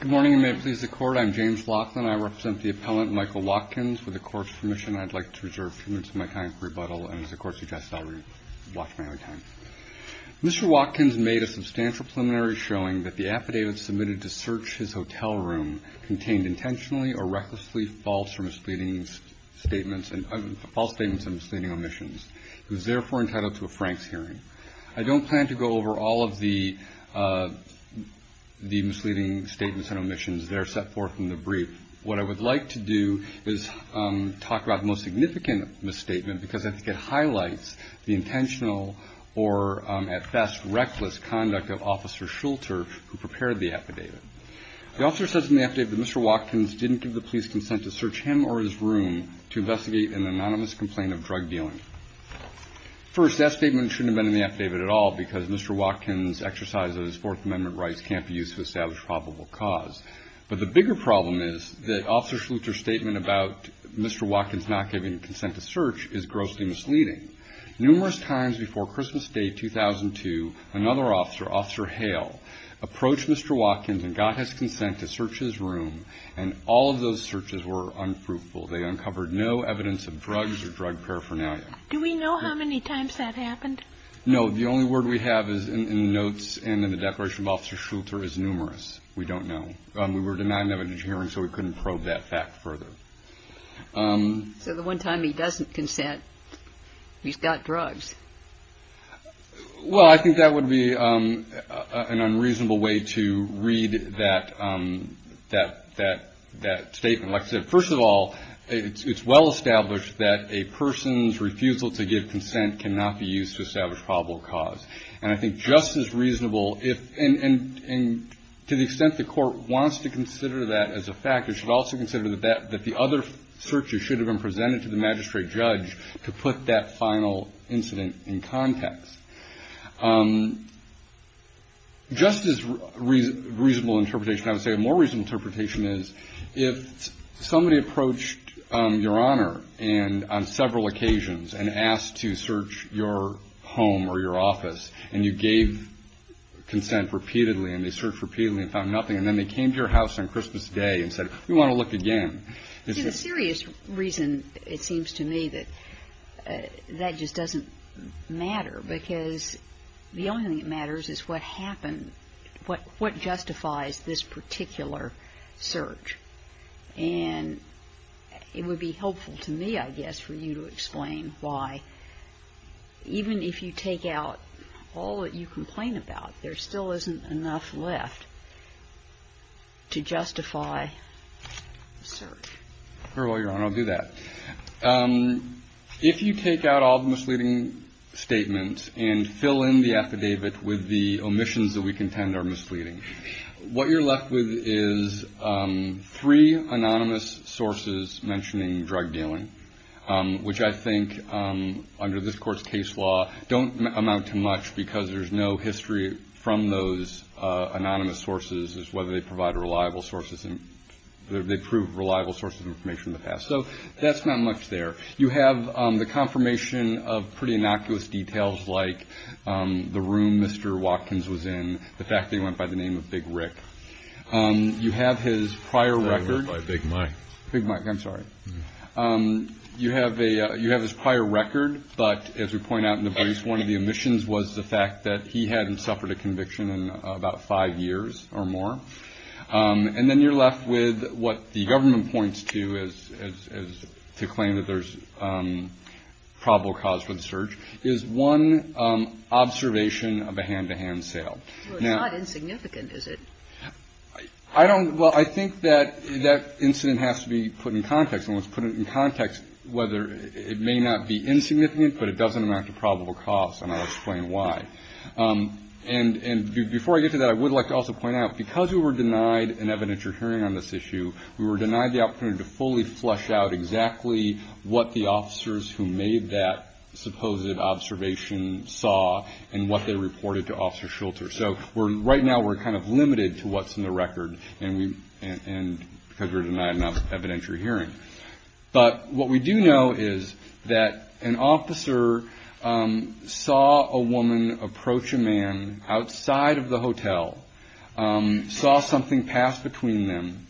Mr. Watkins made a substantial preliminary showing that the affidavit submitted to search his hotel room contained intentionally or recklessly false or misleading statements and false statements and misleading omissions. It was therefore entitled to a Franks hearing. I don't plan to go over all of the misleading statements and omissions that are set forth in the brief. What I would like to do is talk about the most significant misstatement because I think it highlights the intentional or at best reckless conduct of Officer Schulter who prepared the affidavit. The officer says in the affidavit that Mr. Watkins didn't give the police consent to search him or his room to investigate an anonymous complaint of drug dealing. First, that statement shouldn't have been in the affidavit at all because Mr. Watkins' exercise of his Fourth Amendment rights can't be used to establish probable cause. But the bigger problem is that Officer Schulter's statement about Mr. Watkins not giving consent to search is grossly misleading. Numerous times before Christmas Day 2002, another officer, Officer Hale, approached Mr. Watkins and got his consent to search his room and all of those searches were unfruitful. They uncovered no evidence of drugs or drug paraphernalia. Do we know how many times that happened? No. The only word we have is in the notes and in the declaration of Officer Schulter is numerous. We don't know. We were denied an evidence hearing so we couldn't probe that fact further. So the one time he doesn't consent, he's got drugs. Well, I think that would be an unreasonable way to read that statement. Like I said, first of all, it's well established that a person's refusal to give consent cannot be used to establish probable cause. And I think just as reasonable if, and to the extent the court wants to consider that as a fact, it should also consider that the other searches should have been presented to the magistrate judge to put that final incident to rest. And I think that would be a reasonable way to read that statement in context. Just as reasonable interpretation, I would say a more reasonable interpretation is if somebody approached Your Honor and on several occasions and asked to search your home or your office and you gave consent repeatedly and they searched repeatedly and found nothing and then they came to your house on Christmas Day and said, we want to look again, this is the reason it seems to me that that just doesn't make any sense. It doesn't matter because the only thing that matters is what happened, what justifies this particular search. And it would be helpful to me, I guess, for you to explain why even if you take out all that you complain about, there still isn't enough left to justify the search. Your Honor, I'll do that. If you take out all the misleading statements and fill in the affidavit with the omissions that we contend are misleading, what you're left with is three anonymous sources mentioning drug dealing, which I think under this court's case law don't amount to much because there's no history from those anonymous sources as to whether they provide reliable sources and whether they prove reliable sources. So that's not much there. You have the confirmation of pretty innocuous details like the room Mr. Watkins was in, the fact that he went by the name of Big Rick. You have his prior record. You have his prior record. But as we point out in the briefs, one of the omissions was the fact that he hadn't suffered a conviction in about five years or more. And then you're left with what the government points to as to claim that there's probable cause for the search is one observation of a hand-to-hand sale. Well, it's not insignificant, is it? Well, I think that incident has to be put in context, and let's put it in context whether it may not be insignificant, but it doesn't amount to probable cause, and I'll explain why. And before I get to that, I would like to also point out, because we were denied an evidentiary hearing on this issue, we were denied the opportunity to fully flush out exactly what the officers who made that supposed observation saw and what they reported to Officer Shulter. So right now we're kind of limited to what's in the record because we're denied an evidentiary hearing. But what we do know is that an officer saw a woman approach a man outside of the hotel, saw something pass between them.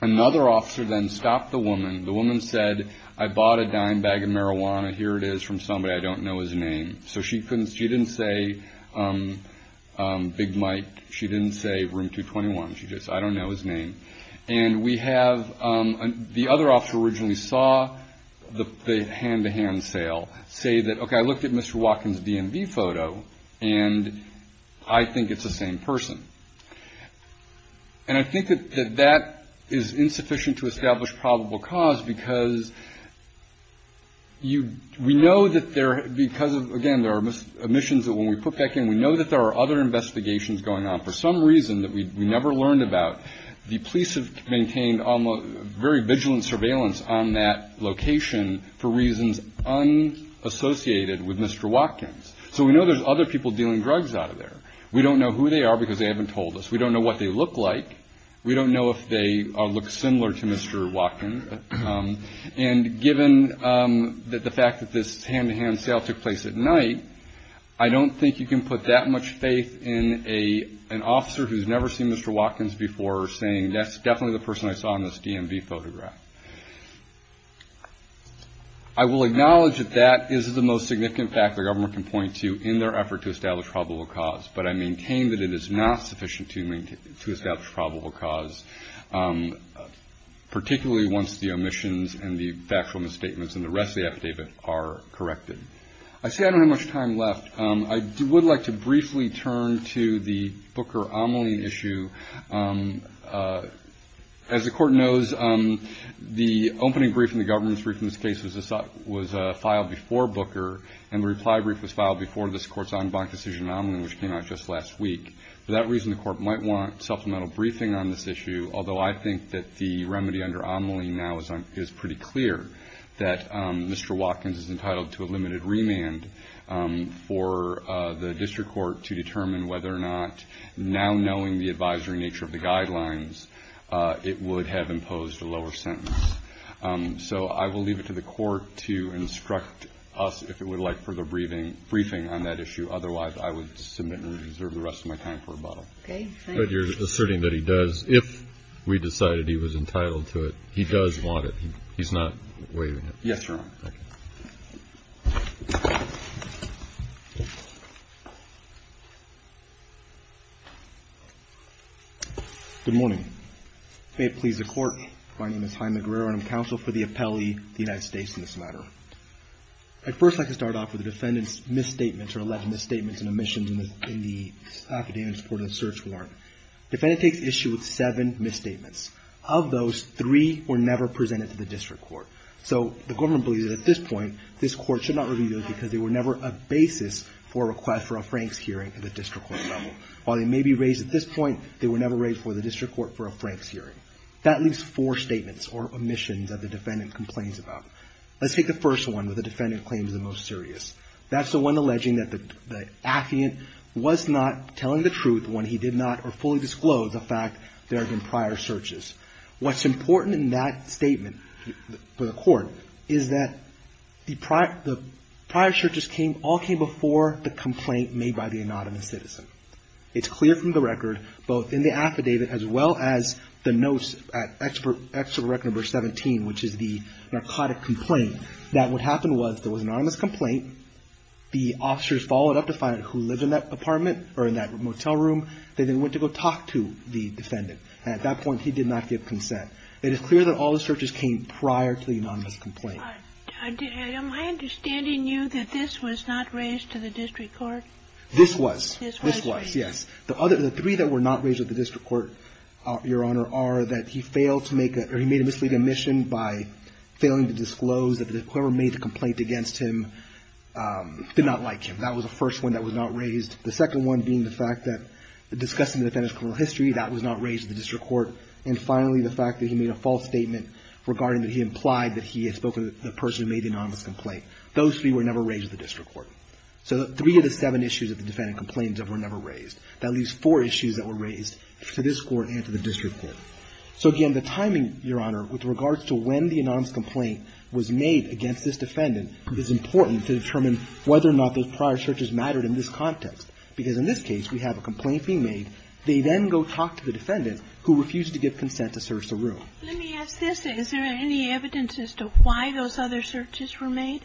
Another officer then stopped the woman. The woman said, I bought a dime bag of marijuana. Here it is from somebody. I don't know his name. So she didn't say Big Mike. She didn't say Room 221. She just said, I don't know his name. And we have the other officer originally saw the hand-to-hand sale say that, okay, I looked at Mr. Watkins' DMV photo, and I think it's the same person. And I think that that is insufficient to establish probable cause because we know that there, because, again, there are omissions that when we put back in, we know that there are other investigations going on. For some reason that we never learned about, the police have maintained very vigilant surveillance on that location for reasons unassociated with Mr. Watkins. So we know there's other people dealing drugs out of there. We don't know who they are because they haven't told us. We don't know what they look like. We don't know if they look similar to Mr. Watkins. And given the fact that this hand-to-hand sale took place at night, I don't think you can put that much faith in an officer who's never seen Mr. Watkins before saying, that's definitely the person I saw in this DMV photograph. I will acknowledge that that is the most significant fact the government can point to in their effort to establish probable cause, but I maintain that it is not sufficient to establish probable cause, particularly once the omissions and the factual misstatements and the rest of the affidavit are corrected. I see I don't have much time left. I would like to briefly turn to the Booker-Omeline issue. As the Court knows, the opening brief in the government's brief in this case was filed before Booker, and the reply brief was filed before this Court's en banc decision in Omeline, which came out just last week. For that reason, the Court might want supplemental briefing on this issue, although I think that the remedy under Omeline now is pretty clear, that Mr. Watkins is entitled to a limited remand for the district court to determine whether or not, now knowing the advisory nature of the guidelines, it would have imposed a lower sentence. So I will leave it to the Court to instruct us if it would like further briefing on that issue. Otherwise, I would submit and reserve the rest of my time for rebuttal. But you're asserting that he does, if we decided he was entitled to it, he does want it. He's not waiving it. Yes, Your Honor. Good morning. May it please the Court, my name is Jaime Guerrero and I'm counsel for the appellee, the United States in this matter. I'd first like to start off with the defendant's misstatements or alleged misstatements and omissions in the academic support of the search warrant. Defendant takes issue with seven misstatements. Of those, three were never presented to the district court. So the government believes that at this point, this court should not review them because they were never a basis for a request for a Frank's hearing at the district court level. While they may be raised at this point, they were never raised before the district court for a Frank's hearing. That leaves four statements or omissions that the defendant complains about. Let's take the first one where the defendant claims the most serious. That's the one alleging that the affidavit was not telling the truth when he did not fully disclose the fact that there have been prior searches. What's important in that statement for the court is that the prior searches all came before the complaint made by the anonymous citizen. It's clear from the record, both in the affidavit as well as the notes at extra record number 17, which is the narcotic complaint, that what happened was there was an anonymous complaint. The officers followed up to find out who lived in that apartment or in that motel room. They then went to go talk to the defendant. At that point, he did not give consent. It is clear that all the searches came prior to the anonymous complaint. Am I understanding you that this was not raised to the district court? This was. This was, yes. The three that were not raised at the district court, Your Honor, are that he failed to make a or he made a misleading omission by failing to disclose that whoever made the complaint against him did not like him. That was the first one that was not raised. The second one being the fact that discussing the defendant's criminal history, that was not raised at the district court. And finally, the fact that he made a false statement regarding that he implied that he had spoken to the person who made the anonymous complaint. Those three were never raised at the district court. So three of the seven issues of the defendant complaints were never raised. That leaves four issues that were raised to this Court and to the district court. So, again, the timing, Your Honor, with regards to when the anonymous complaint was made against this defendant is important to determine whether or not those prior searches mattered in this context. Because in this case, we have a complaint being made. They then go talk to the defendant who refused to give consent to search the room. Let me ask this. Is there any evidence as to why those other searches were made?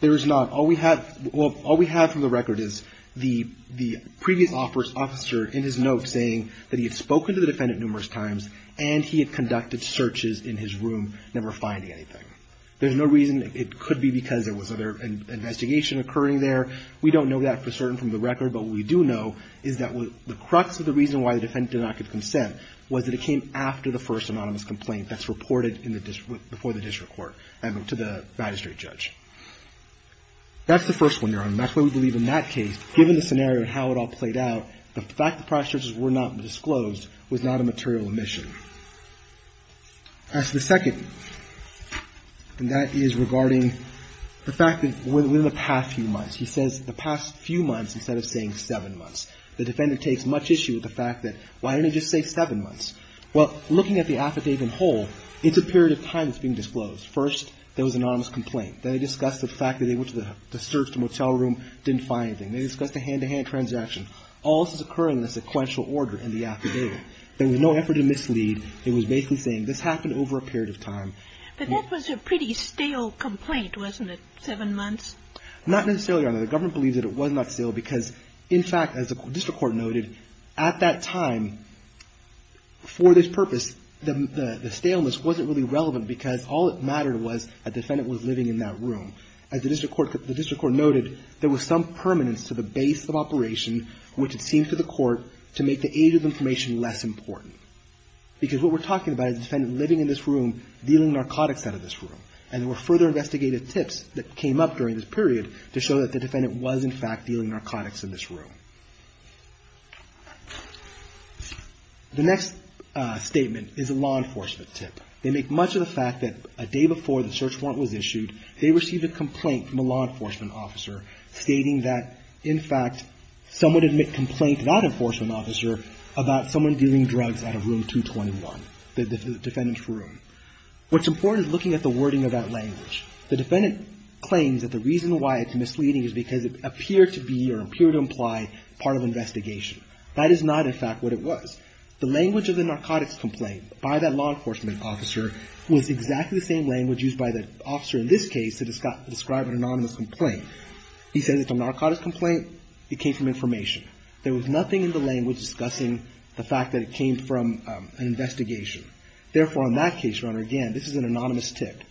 There is not. All we have from the record is the previous officer in his note saying that he had spoken to the defendant numerous times and he had conducted searches in his room, never finding anything. There's no reason. It could be because there was other investigation occurring there. We don't know that for certain from the record. But what we do know is that the crux of the reason why the defendant did not give consent was that it came after the first anonymous complaint that's reported before the district court to the magistrate judge. That's the first one, Your Honor. That's why we believe in that case, given the scenario and how it all played out, the fact that prior searches were not disclosed was not a material omission. As to the second, and that is regarding the fact that within the past few months, he says the past few months instead of saying seven months. The defendant takes much issue with the fact that why didn't he just say seven months? Well, looking at the affidavit in whole, it's a period of time that's being disclosed. First, there was an anonymous complaint. Then they discussed the fact that they went to the search, the motel room, didn't find anything. They discussed a hand-to-hand transaction. All this is occurring in a sequential order in the affidavit. There was no effort to mislead. It was basically saying this happened over a period of time. But that was a pretty stale complaint, wasn't it, seven months? Not necessarily, Your Honor. The government believes that it was not stale because, in fact, as the district court noted, at that time, for this purpose, the staleness wasn't really relevant because all that mattered was a defendant was living in that room. As the district court noted, there was some permanence to the base of operation, which it seemed to the court, to make the age of information less important. Because what we're talking about is a defendant living in this room, dealing narcotics out of this room. And there were further investigative tips that came up during this period to show that the defendant was, in fact, dealing narcotics in this room. The next statement is a law enforcement tip. They make much of the fact that a day before the search warrant was issued, they received a complaint from a law enforcement officer stating that, in fact, someone had made a complaint to that enforcement officer about someone dealing drugs out of room 221, the defendant's room. What's important is looking at the wording of that language. The defendant claims that the reason why it's misleading is because it appeared to be or appeared to imply part of an investigation. That is not, in fact, what it was. The language of the narcotics complaint by that law enforcement officer was exactly the same language used by the officer in this case to describe an anonymous complaint. He says it's a narcotics complaint. It came from information. There was nothing in the language discussing the fact that it came from an investigation. Therefore, on that case, Your Honor, again, this is an anonymous tip.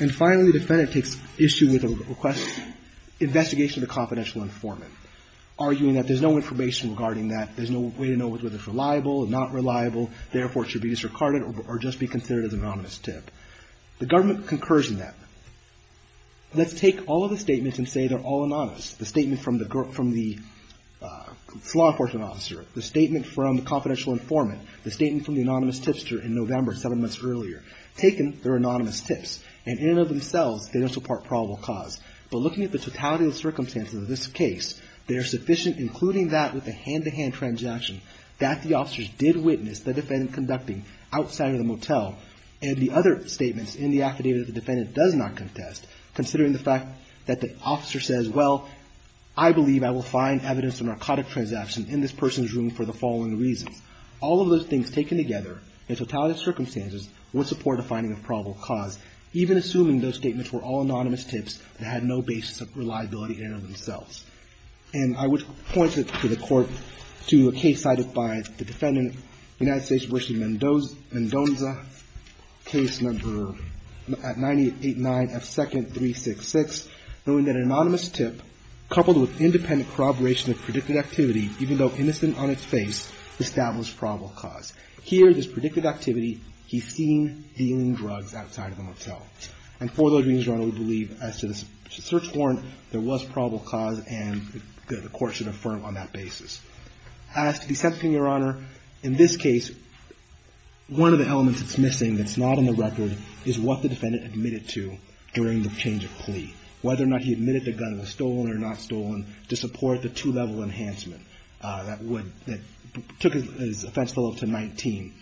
And finally, the defendant takes issue with a request, investigation of a confidential informant, arguing that there's no information regarding that. There's no way to know whether it's reliable or not reliable. Therefore, it should be disregarded or just be considered as an anonymous tip. The government concurs in that. Let's take all of the statements and say they're all anonymous. The statement from the law enforcement officer, the statement from the confidential informant, the statement from the anonymous tipster in November, seven months earlier, taken, they're anonymous tips. And in and of themselves, they don't support probable cause. But looking at the totality of the circumstances of this case, they are sufficient, including that with a hand-to-hand transaction that the officers did witness the defendant conducting outside of the motel and the other statements in the affidavit that the defendant does not contest, considering the fact that the officer says, well, I believe I will find evidence of a narcotic transaction in this person's room for the following reasons. All of those things taken together in totality of circumstances would support a binding of probable cause, even assuming those statements were all anonymous tips that had no basis of reliability in and of themselves. And I would point to the court, to a case cited by the defendant, United States Bishop Mendonza, case number at 989F2nd366, knowing that an anonymous tip coupled with independent corroboration of predicted activity, even though innocent on its face, established probable cause. Here, this predicted activity, he's seen dealing drugs outside of the motel. And for those reasons, Your Honor, we believe as to the search warrant, there was probable cause, and the court should affirm on that basis. As to the sentencing, Your Honor, in this case, one of the elements that's missing that's not on the record is what the defendant admitted to during the change of plea, whether or not he admitted the gun was stolen or not stolen, to support the two-level enhancement that would, that took his offense level to 19.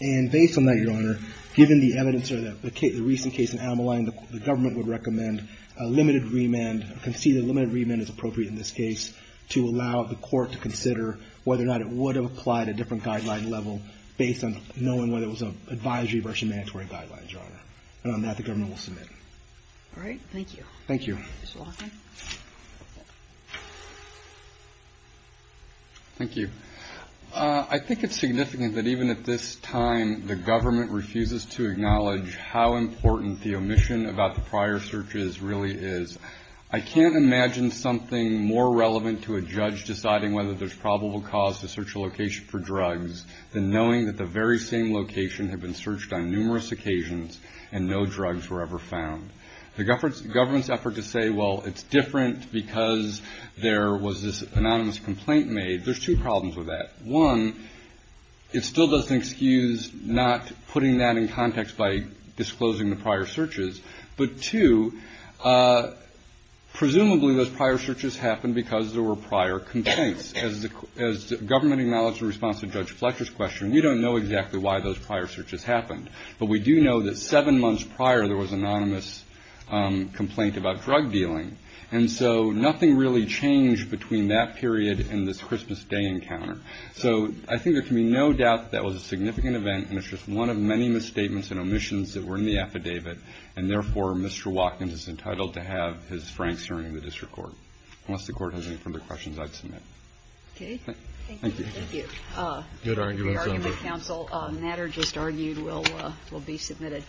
And based on that, Your Honor, given the evidence or the recent case in Ameline, the government would recommend a limited remand, conceded a limited remand is appropriate in this case, to allow the court to consider whether or not it would have applied a different guideline level based on knowing whether it was an advisory versus mandatory guideline, Your Honor. And on that, the government will submit. All right. Thank you. Mr. Walker? Thank you. I think it's significant that even at this time, the government refuses to acknowledge how important the omission about the prior searches really is. I can't imagine something more relevant to a judge deciding whether there's probable cause to search a location for drugs than knowing that the very same location had been searched on numerous occasions and no drugs were ever found. The government's effort to say, well, it's different because there was this anonymous complaint made, there's two problems with that. One, it still doesn't excuse not putting that in context by disclosing the prior searches. But, two, presumably those prior searches happened because there were prior complaints. As the government acknowledged in response to Judge Fletcher's question, we don't know exactly why those prior searches happened. But we do know that seven months prior there was an anonymous complaint about drug dealing. And so nothing really changed between that period and this Christmas Day encounter. So I think there can be no doubt that that was a significant event and it's just one of many misstatements and omissions that were in the affidavit. And, therefore, Mr. Watkins is entitled to have his franks during the district court. Unless the court has any further questions, I'd submit. Okay. Thank you. Thank you. Good argument, Senator. The argument counsel matter just argued will be submitted.